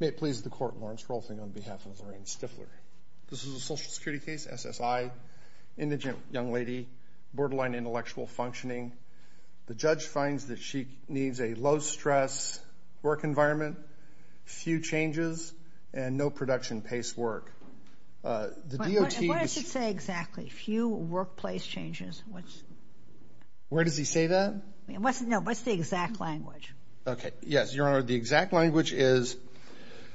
May it please the court, Lawrence Rolfing on behalf of Lorain Stiffler. This is a social security case, SSI, indigent young lady, borderline intellectual functioning. The judge finds that she needs a low-stress work environment, few changes, and no production-paced work. What does it say exactly, few workplace changes? Where does he say that? No, what's the exact language? Okay, yes, Your Honor, the exact language is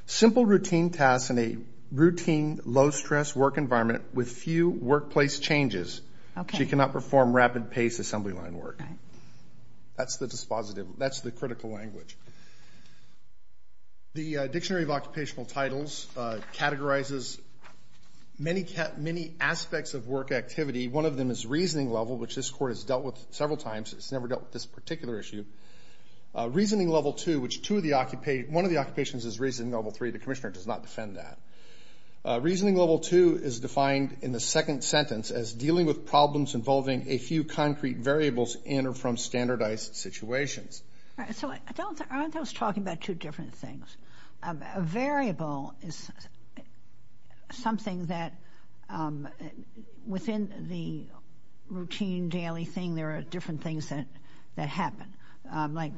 simple routine tasks in a routine low-stress work environment with few workplace changes. Okay. She cannot perform rapid-paced assembly line work. Okay. That's the dispositive, that's the critical language. The Dictionary of Occupational Titles categorizes many aspects of work activity. One of them is reasoning level, which this court has dealt with several times. It's never dealt with this particular issue. Reasoning level two, which one of the occupations is reasoning level three, the commissioner does not defend that. Reasoning level two is defined in the second sentence as dealing with problems involving a few concrete variables in or from standardized situations. All right, so I thought I was talking about two different things. A variable is something that within the routine daily thing there are different things that happen. Like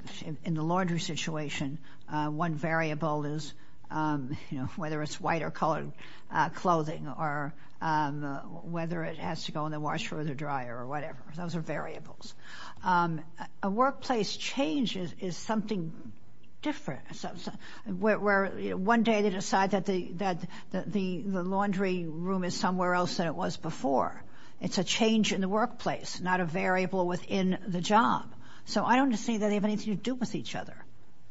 in the laundry situation, one variable is, you know, whether it's white or colored clothing or whether it has to go in the washer or the dryer or whatever. Those are variables. A workplace change is something different, where one day they decide that the laundry room is somewhere else than it was before. It's a change in the workplace, not a variable within the job. So I don't see that they have anything to do with each other.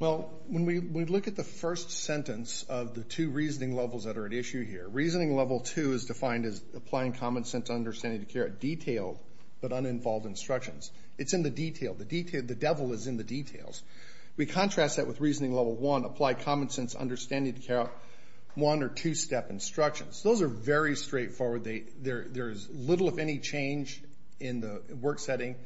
Well, when we look at the first sentence of the two reasoning levels that are at issue here, reasoning level two is defined as applying common sense understanding to carry out detailed but uninvolved instructions. It's in the detail. The devil is in the details. We contrast that with reasoning level one, apply common sense understanding to carry out one- or two-step instructions. Those are very straightforward. There is little, if any, change in the work setting.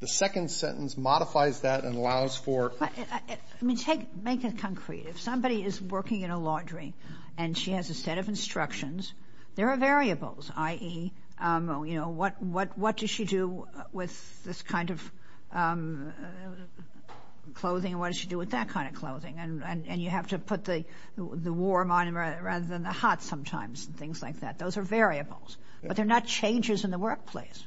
The second sentence modifies that and allows for ‑‑ I mean, make it concrete. If somebody is working in a laundry and she has a set of instructions, there are variables, i.e., you know, what does she do with this kind of clothing and what does she do with that kind of clothing, and you have to put the warm on rather than the hot sometimes and things like that. Those are variables. But they're not changes in the workplace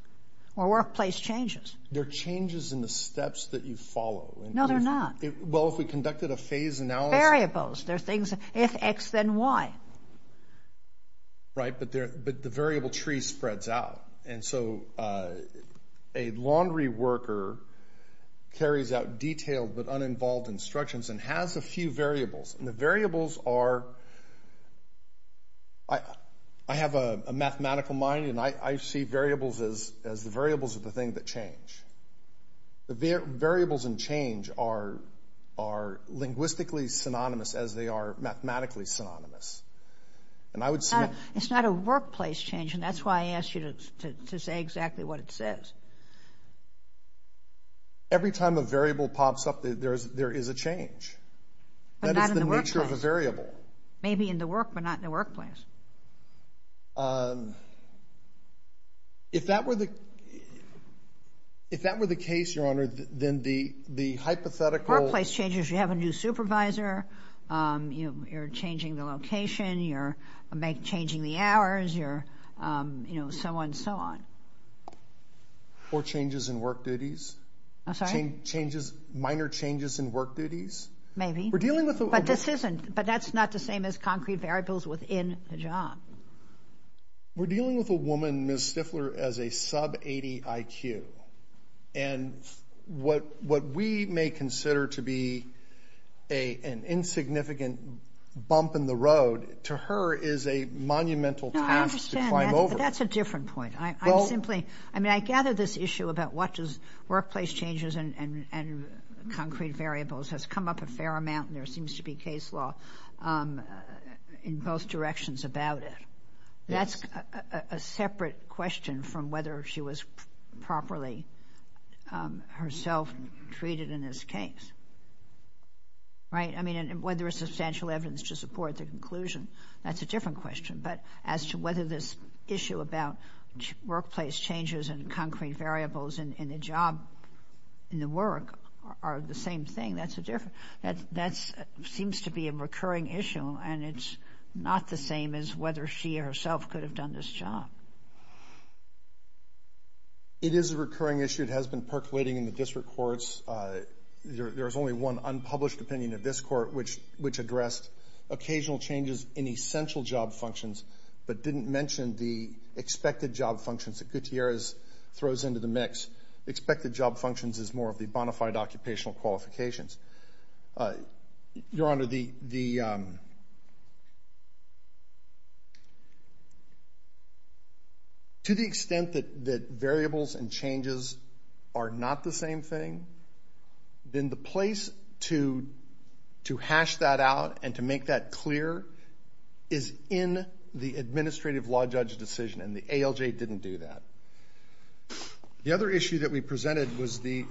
or workplace changes. They're changes in the steps that you follow. No, they're not. Well, if we conducted a phase analysis. Variables. They're things, if X, then Y. Right, but the variable tree spreads out. And so a laundry worker carries out detailed but uninvolved instructions and has a few variables. And the variables are ‑‑ I have a mathematical mind, and I see variables as the variables of the thing that change. The variables in change are linguistically synonymous as they are mathematically synonymous. And I would say ‑‑ It's not a workplace change, and that's why I asked you to say exactly what it says. Every time a variable pops up, there is a change. But not in the workplace. That is the nature of a variable. Maybe in the work, but not in the workplace. If that were the case, Your Honor, then the hypothetical ‑‑ Workplace changes. You have a new supervisor. You're changing the location. You're changing the hours. You're, you know, so on and so on. Or changes in work duties. I'm sorry? Minor changes in work duties. Maybe. We're dealing with ‑‑ But this isn't ‑‑ but that's not the same as concrete variables within a job. We're dealing with a woman, Ms. Stifler, as a sub‑80 IQ. And what we may consider to be an insignificant bump in the road, to her is a monumental task to climb over. No, I understand that, but that's a different point. I'm simply ‑‑ I mean, I gather this issue about what does workplace changes and concrete variables has come up a fair amount, and there seems to be case law in both directions about it. That's a separate question from whether she was properly herself treated in this case. Right? I mean, whether there's substantial evidence to support the conclusion, that's a different question. But as to whether this issue about workplace changes and concrete variables in a job, in the work, are the same thing, that's a different ‑‑ that seems to be a recurring issue, and it's not the same as whether she herself could have done this job. It is a recurring issue. It has been percolating in the district courts. There's only one unpublished opinion in this court, which addressed occasional changes in essential job functions, but didn't mention the expected job functions that Gutierrez throws into the mix. Expected job functions is more of the bonafide occupational qualifications. Your Honor, the ‑‑ to the extent that variables and changes are not the same thing, then the place to hash that out and to make that clear is in the administrative law judge decision, and the ALJ didn't do that. The other issue that we presented was the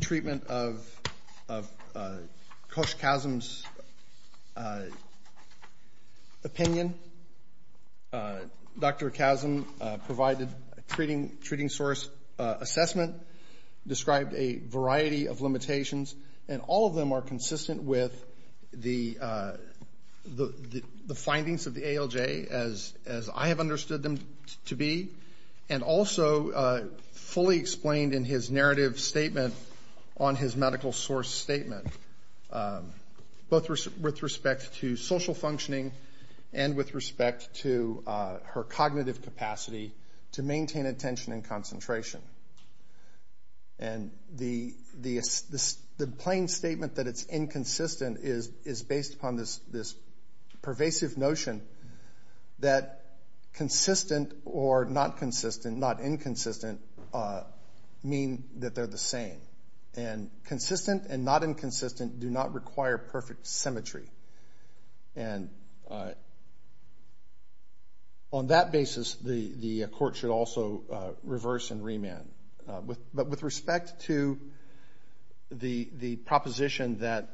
treatment of Coach Chasm's opinion. Dr. Chasm provided a treating source assessment, described a variety of limitations, and all of them are consistent with the findings of the ALJ as I have understood them to be, and also fully explained in his narrative statement on his medical source statement, both with respect to social functioning and with respect to her cognitive capacity to maintain attention and concentration. And the plain statement that it's inconsistent is based upon this pervasive notion that consistent or not consistent, not inconsistent, mean that they're the same. And consistent and not inconsistent do not require perfect symmetry. And on that basis, the court should also reverse and remand. But with respect to the proposition that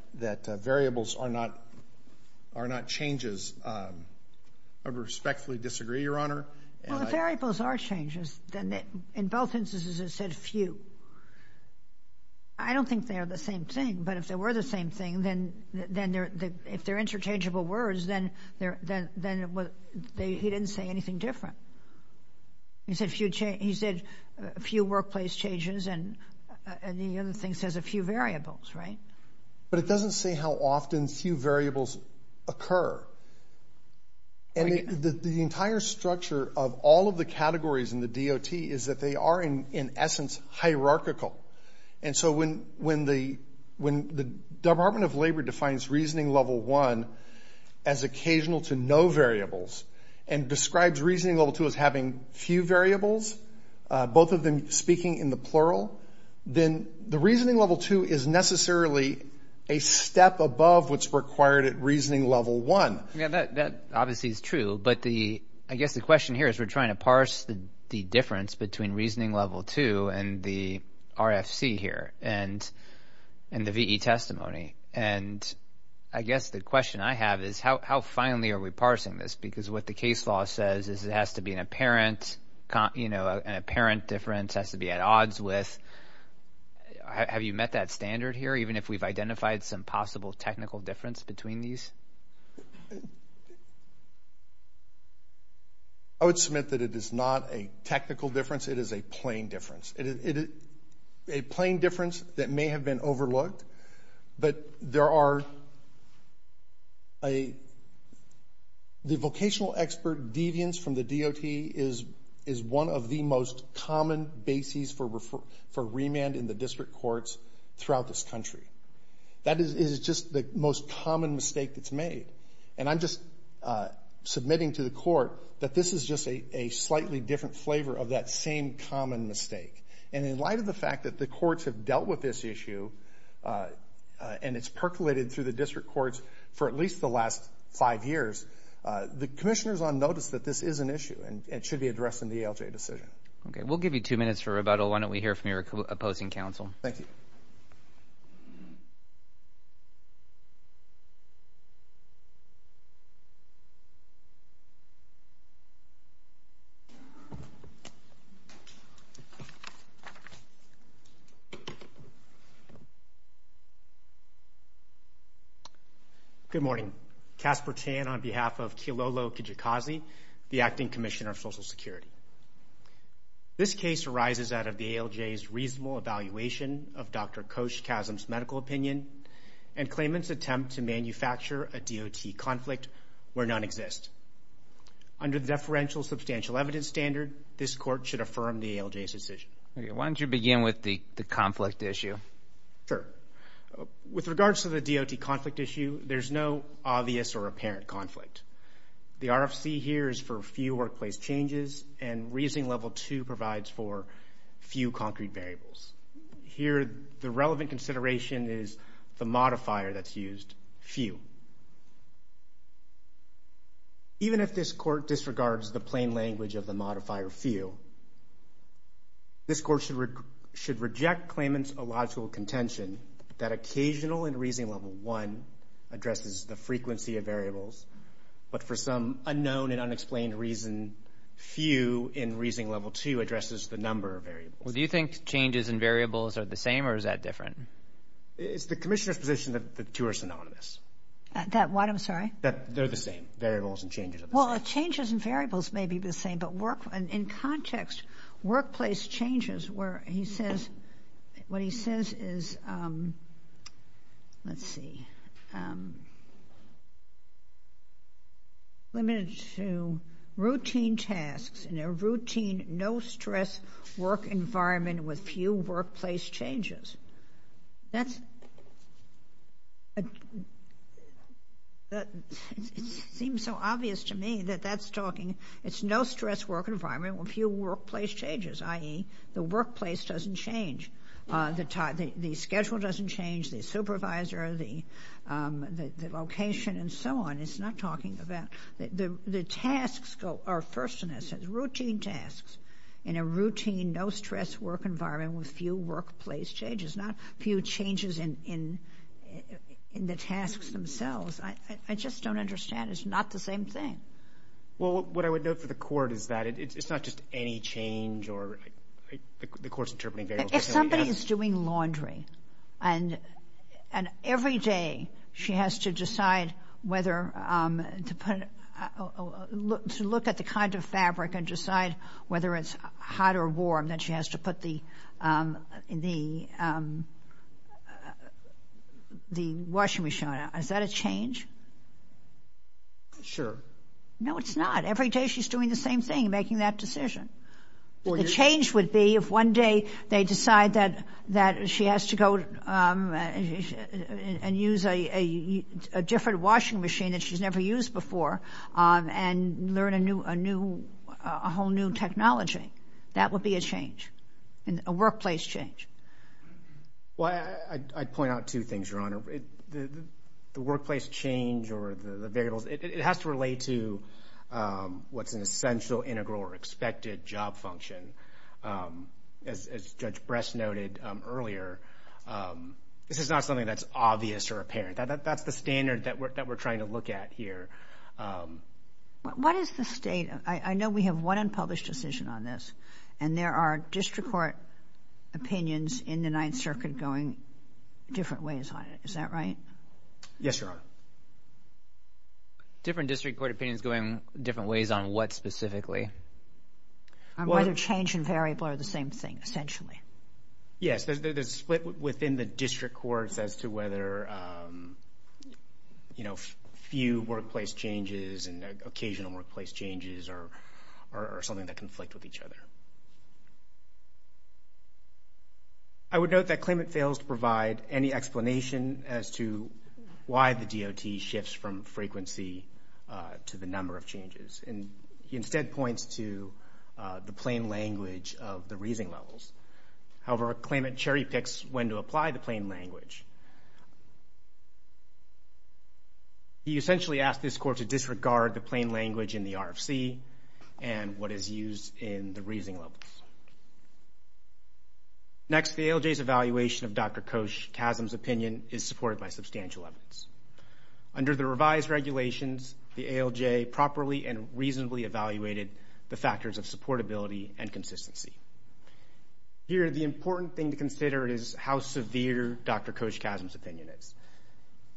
variables are not changes, I respectfully disagree, Your Honor. Well, if variables are changes, then in both instances it said few. I don't think they're the same thing, but if they were the same thing, then if they're interchangeable words, then he didn't say anything different. He said few workplace changes, and the other thing says a few variables, right? But it doesn't say how often few variables occur. And the entire structure of all of the categories in the DOT is that they are, in essence, hierarchical. And so when the Department of Labor defines reasoning level one as occasional to no variables and describes reasoning level two as having few variables, both of them speaking in the plural, then the reasoning level two is necessarily a step above what's required at reasoning level one. Yeah, that obviously is true. But I guess the question here is we're trying to parse the difference between reasoning level two and the RFC here and the VE testimony. And I guess the question I have is how finely are we parsing this? Because what the case law says is it has to be an apparent difference, has to be at odds with. Have you met that standard here, even if we've identified some possible technical difference between these? I would submit that it is not a technical difference. It is a plain difference. It is a plain difference that may have been overlooked. But there are a, the vocational expert deviance from the DOT is one of the most common bases for remand in the district courts throughout this country. That is just the most common mistake that's made. And I'm just submitting to the court that this is just a slightly different flavor of that same common mistake. And in light of the fact that the courts have dealt with this issue and it's percolated through the district courts for at least the last five years, the commissioner's on notice that this is an issue and it should be addressed in the ALJ decision. Okay, we'll give you two minutes for rebuttal. Why don't we hear from your opposing counsel? Thank you. Good morning. Kasper Chan on behalf of Kilolo Kijikazi, the acting commissioner of Social Security. This case arises out of the ALJ's reasonable evaluation of Dr. Koch-Chasm's medical opinion and claimant's attempt to manufacture a DOT conflict where none exist. Under the deferential substantial evidence standard, this court should affirm the ALJ's decision. Why don't you begin with the conflict issue? Sure. With regards to the DOT conflict issue, there's no obvious or apparent conflict. The RFC here is for few workplace changes and reasoning level two provides for few concrete variables. Here the relevant consideration is the modifier that's used, few. Even if this court disregards the plain language of the modifier few, this court should reject claimant's illogical contention that occasional and reasoning level one addresses the frequency of variables, but for some unknown and unexplained reason, few in reasoning level two addresses the number of variables. Do you think changes in variables are the same or is that different? It's the commissioner's position that the two are synonymous. That what? I'm sorry? That they're the same, variables and changes are the same. Well, changes in variables may be the same, but in context, workplace changes where he says, what he says is, let's see, limited to routine tasks in a routine, no-stress work environment with few workplace changes. That seems so obvious to me that that's talking, it's no-stress work environment with few workplace changes, i.e., the workplace doesn't change. The schedule doesn't change, the supervisor, the location, and so on. It's not talking about the tasks go, or first in essence, routine tasks, in a routine, no-stress work environment with few workplace changes, not few changes in the tasks themselves. I just don't understand. It's not the same thing. Well, what I would note for the court is that it's not just any change or the court's interpreting variables. If somebody is doing laundry and every day she has to decide whether to put, to look at the kind of fabric and decide whether it's hot or warm, then she has to put the washing machine on. Is that a change? Sure. No, it's not. Every day she's doing the same thing, making that decision. The change would be if one day they decide that she has to go and use a different washing machine that she's never used before and learn a whole new technology. That would be a change, a workplace change. The workplace change or the variables, it has to relate to what's an essential, integral, or expected job function. As Judge Bress noted earlier, this is not something that's obvious or apparent. That's the standard that we're trying to look at here. What is the state? I know we have one unpublished decision on this, and there are district court opinions in the Ninth Circuit going different ways on it. Is that right? Yes, Your Honor. Different district court opinions going different ways on what specifically? Whether change and variable are the same thing, essentially. Yes, there's a split within the district courts as to whether few workplace changes and occasional workplace changes are something that conflict with each other. I would note that Klamath fails to provide any explanation as to why the DOT shifts from frequency to the number of changes. He instead points to the plain language of the reasoning levels. However, Klamath cherry-picks when to apply the plain language. He essentially asked this court to disregard the plain language in the RFC and what is used in the reasoning levels. Next, the ALJ's evaluation of Dr. Koch-Chasm's opinion is supported by substantial evidence. Under the revised regulations, the ALJ properly and reasonably evaluated the factors of supportability and consistency. Here, the important thing to consider is how severe Dr. Koch-Chasm's opinion is.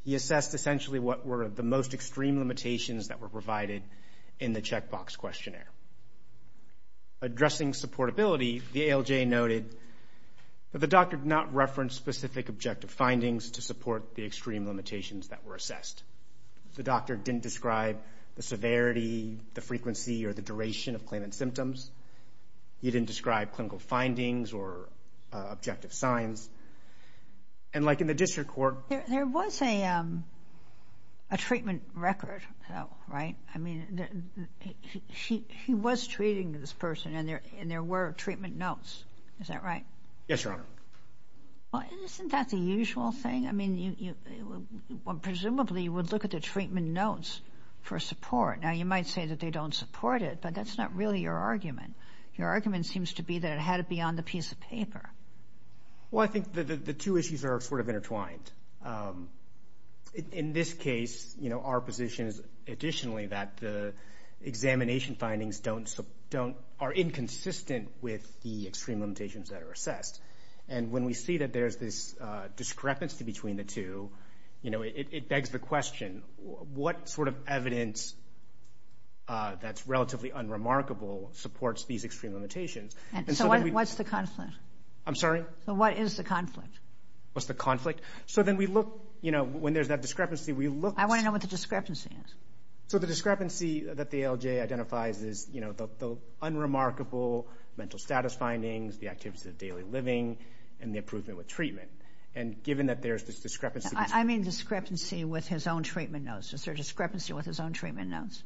He assessed essentially what were the most extreme limitations that were provided in the checkbox questionnaire. Addressing supportability, the ALJ noted that the doctor did not reference specific objective findings to support the extreme limitations that were assessed. The doctor didn't describe the severity, the frequency, or the duration of claimant symptoms. He didn't describe clinical findings or objective signs. And like in the district court... There was a treatment record, right? I mean, he was treating this person and there were treatment notes. Is that right? Yes, Your Honor. Well, isn't that the usual thing? I mean, presumably you would look at the treatment notes for support. Now, you might say that they don't support it, but that's not really your argument. Your argument seems to be that it had to be on the piece of paper. Well, I think the two issues are sort of intertwined. In this case, our position is additionally that the examination findings are inconsistent with the extreme limitations that are assessed. And when we see that there's this discrepancy between the two, it begs the question, what sort of evidence that's relatively unremarkable supports these extreme limitations? So what's the conflict? I'm sorry? So what is the conflict? What's the conflict? So then we look, you know, when there's that discrepancy, we look... I want to know what the discrepancy is. So the discrepancy that the ALJ identifies is, you know, the unremarkable mental status findings, the activities of daily living, and the improvement with treatment. And given that there's this discrepancy... I mean discrepancy with his own treatment notes. Is there a discrepancy with his own treatment notes?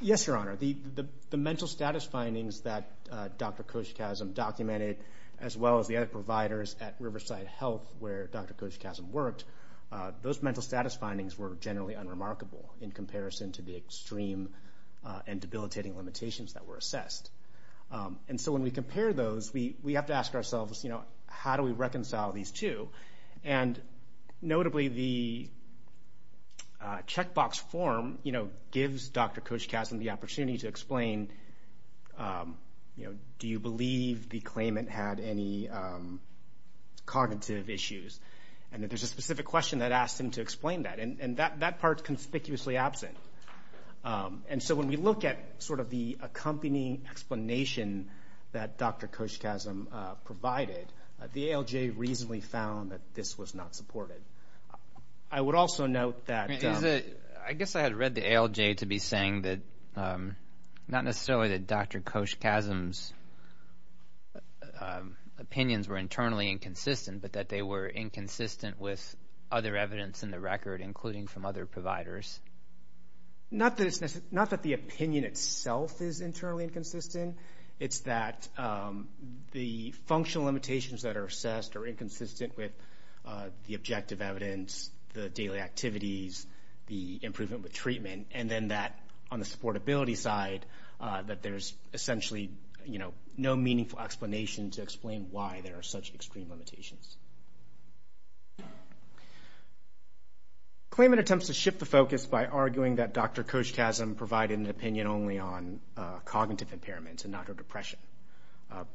Yes, Your Honor. The mental status findings that Dr. Koshkazm documented, as well as the other providers at Riverside Health where Dr. Koshkazm worked, those mental status findings were generally unremarkable in comparison to the extreme and debilitating limitations that were assessed. And so when we compare those, we have to ask ourselves, you know, how do we reconcile these two? And notably the checkbox form, you know, gives Dr. Koshkazm the opportunity to explain, you know, do you believe the claimant had any cognitive issues? And that there's a specific question that asks him to explain that, and that part is conspicuously absent. And so when we look at sort of the accompanying explanation that Dr. Koshkazm provided, the ALJ reasonably found that this was not supported. I would also note that... I guess I had read the ALJ to be saying that not necessarily that Dr. Koshkazm's opinions were internally inconsistent, but that they were inconsistent with other evidence in the record, including from other providers. Not that the opinion itself is internally inconsistent. It's that the functional limitations that are assessed are inconsistent with the objective evidence, the daily activities, the improvement with treatment, and then that on the supportability side that there's essentially, you know, no meaningful explanation to explain why there are such extreme limitations. Claimant attempts to shift the focus by arguing that Dr. Koshkazm provided an opinion only on cognitive impairments and not her depression,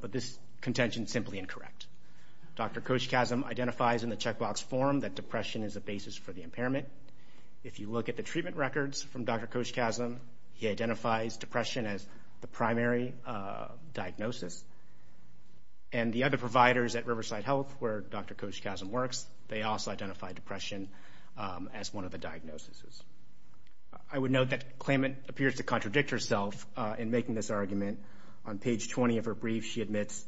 but this contention is simply incorrect. Dr. Koshkazm identifies in the checkbox form that depression is a basis for the impairment. If you look at the treatment records from Dr. Koshkazm, he identifies depression as the primary diagnosis. And the other providers at Riverside Health where Dr. Koshkazm works, they also identify depression as one of the diagnoses. I would note that claimant appears to contradict herself in making this argument. On page 20 of her brief, she admits,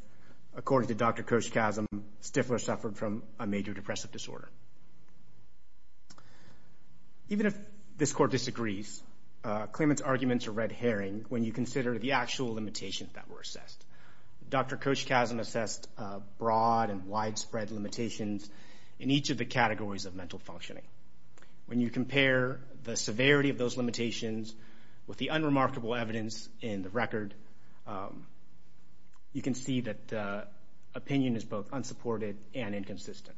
according to Dr. Koshkazm, Stifler suffered from a major depressive disorder. Even if this court disagrees, claimant's arguments are red herring when you consider the actual limitations that were assessed. Dr. Koshkazm assessed broad and widespread limitations in each of the categories of mental functioning. When you compare the severity of those limitations with the unremarkable evidence in the record, you can see that opinion is both unsupported and inconsistent.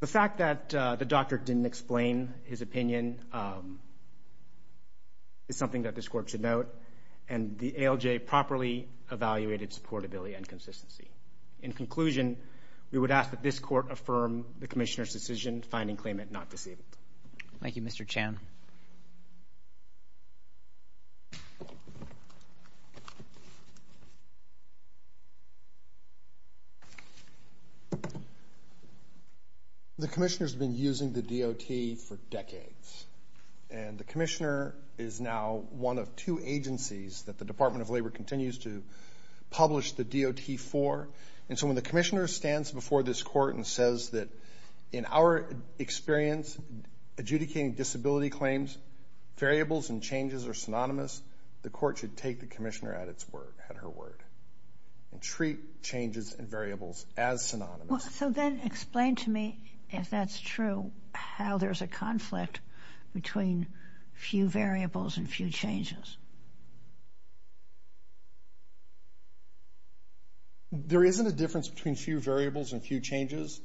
The fact that the doctor didn't explain his opinion is something that this court should note, and the ALJ properly evaluated supportability and consistency. In conclusion, we would ask that this court affirm the commissioner's decision, finding claimant not disabled. Thank you, Mr. Chan. The commissioner's been using the DOT for decades, and the commissioner is now one of two agencies that the Department of Labor continues to publish the DOT for. And so when the commissioner stands before this court and says that, in our experience adjudicating disability claims, variables and changes are synonymous, the court should take the commissioner at her word and treat changes and variables as synonymous. So then explain to me, if that's true, how there's a conflict between few variables and few changes. There isn't a difference between few variables and few changes,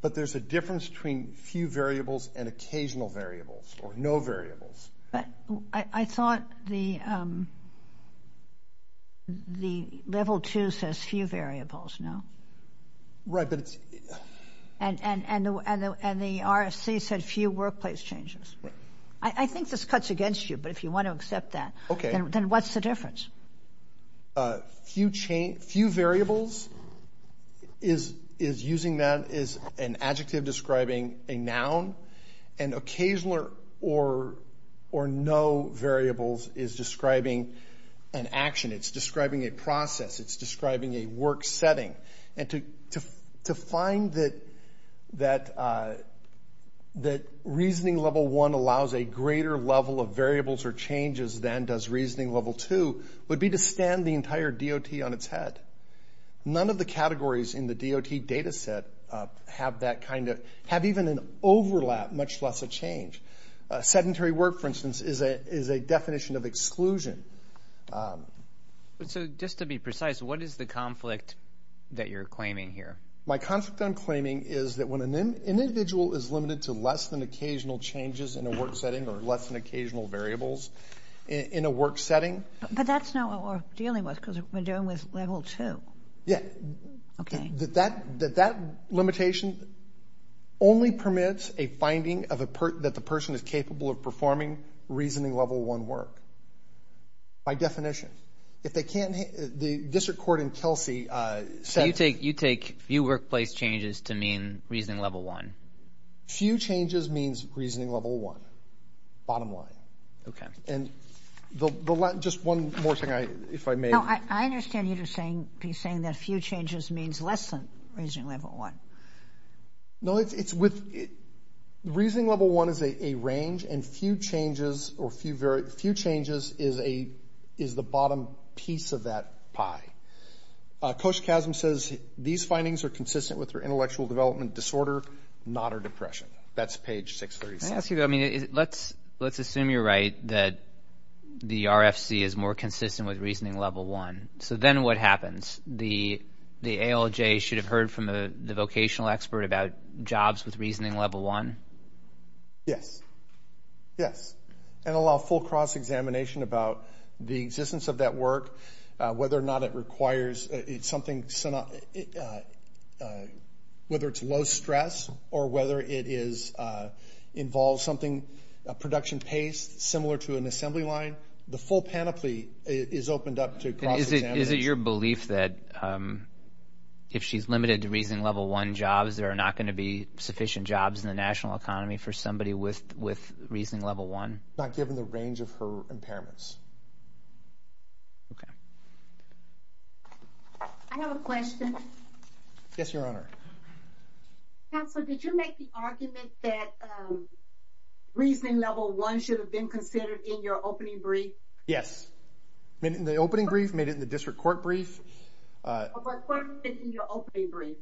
but there's a difference between few variables and occasional variables or no variables. But I thought the Level 2 says few variables, no? Right, but it's — And the RFC said few workplace changes. I think this cuts against you, but if you want to accept that, then what's the difference? Few variables is using that as an adjective describing a noun, and occasional or no variables is describing an action. It's describing a process. It's describing a work setting. And to find that Reasoning Level 1 allows a greater level of variables or changes than does Reasoning Level 2 would be to stand the entire DOT on its head. None of the categories in the DOT data set have that kind of — have even an overlap, much less a change. Sedentary work, for instance, is a definition of exclusion. So just to be precise, what is the conflict that you're claiming here? My conflict I'm claiming is that when an individual is limited to less than occasional changes in a work setting or less than occasional variables in a work setting — But that's not what we're dealing with because we're dealing with Level 2. Yeah. Okay. That that limitation only permits a finding that the person is capable of performing Reasoning Level 1 work by definition. If they can't — the district court in Kelsey said — You take few workplace changes to mean Reasoning Level 1. Few changes means Reasoning Level 1, bottom line. Okay. Just one more thing, if I may. No, I understand you're saying that few changes means less than Reasoning Level 1. No, it's with — Reasoning Level 1 is a range, and few changes is the bottom piece of that pie. Coach Chasm says these findings are consistent with her intellectual development disorder, not her depression. That's page 636. Can I ask you, though? I mean, let's assume you're right that the RFC is more consistent with Reasoning Level 1. So then what happens? The ALJ should have heard from the vocational expert about jobs with Reasoning Level 1? Yes. Yes. And allow full cross-examination about the existence of that work, whether or not it requires — whether it's low stress or whether it involves something, a production pace similar to an assembly line. The full panoply is opened up to cross-examination. Is it your belief that if she's limited to Reasoning Level 1 jobs, there are not going to be sufficient jobs in the national economy for somebody with Reasoning Level 1? Not given the range of her impairments. Okay. I have a question. Yes, Your Honor. Counselor, did you make the argument that Reasoning Level 1 should have been considered in your opening brief? Yes. Made it in the opening brief, made it in the district court brief. I have a question in your opening brief.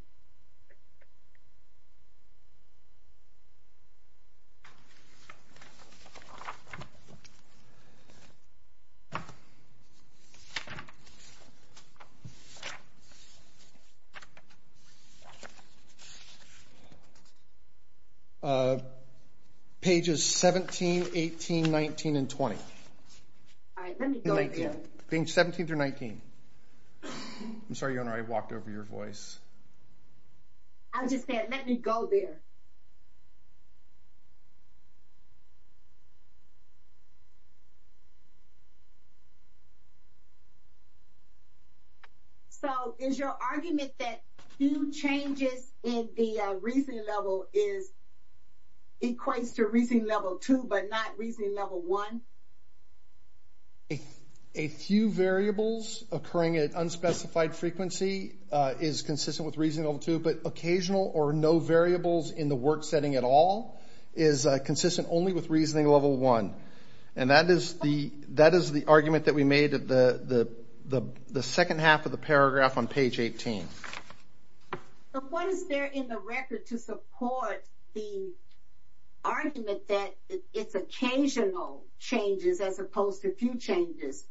Pages 17, 18, 19, and 20. All right. Let me go again. Pages 17 through 19. I'm sorry, Your Honor, I walked over your voice. I was just saying, let me go there. So is your argument that few changes in the Reasoning Level equates to Reasoning Level 2 but not Reasoning Level 1? A few variables occurring at unspecified frequency is consistent with Reasoning Level 2, but occasional or no variables in the work setting at all is consistent only with Reasoning Level 1. And that is the argument that we made at the second half of the paragraph on page 18. But what is there in the record to support the argument that it's occasional changes as opposed to few changes,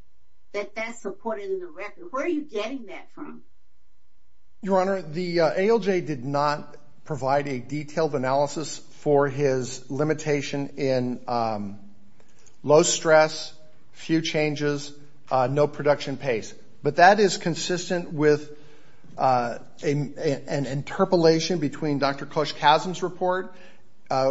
that that's supported in the record? Where are you getting that from? Your Honor, the ALJ did not provide a detailed analysis for his limitation in low stress, few changes, no production pace. But that is consistent with an interpolation between Dr. Cush-Casm's report,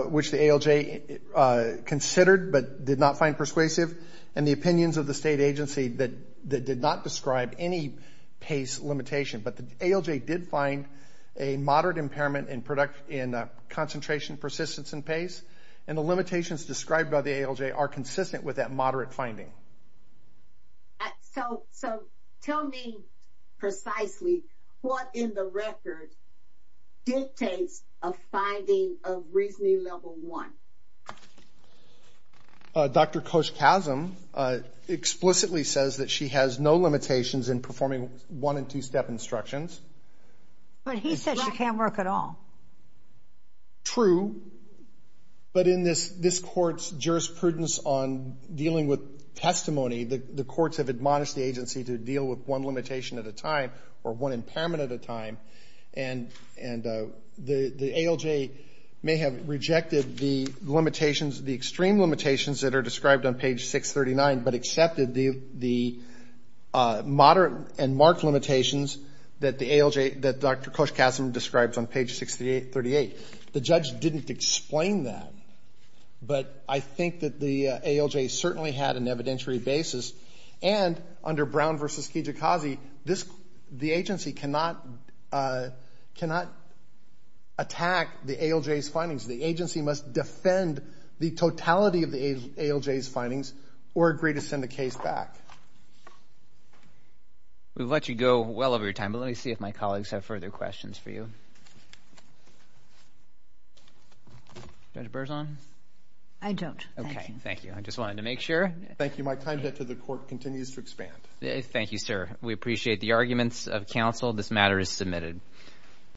which the ALJ considered but did not find persuasive, and the opinions of the state agency that did not describe any pace limitation. But the ALJ did find a moderate impairment in concentration persistence and pace, and the limitations described by the ALJ are consistent with that moderate finding. So tell me precisely what in the record dictates a finding of Reasoning Level 1? Dr. Cush-Casm explicitly says that she has no limitations in performing one and two step instructions. But he said she can't work at all. True, but in this Court's jurisprudence on dealing with testimony, the courts have admonished the agency to deal with one limitation at a time or one impairment at a time. And the ALJ may have rejected the limitations, the extreme limitations that are described on page 639, but accepted the moderate and marked limitations that the ALJ, that Dr. Cush-Casm describes on page 638. The judge didn't explain that, but I think that the ALJ certainly had an evidentiary basis. And under Brown v. Kijikazi, the agency cannot attack the ALJ's findings. The agency must defend the totality of the ALJ's findings or agree to send the case back. We've let you go well over your time, but let me see if my colleagues have further questions for you. Judge Berzon? I don't. Okay, thank you. I just wanted to make sure. Thank you. My time to get to the Court continues to expand. Thank you, sir. We appreciate the arguments of counsel. This matter is submitted.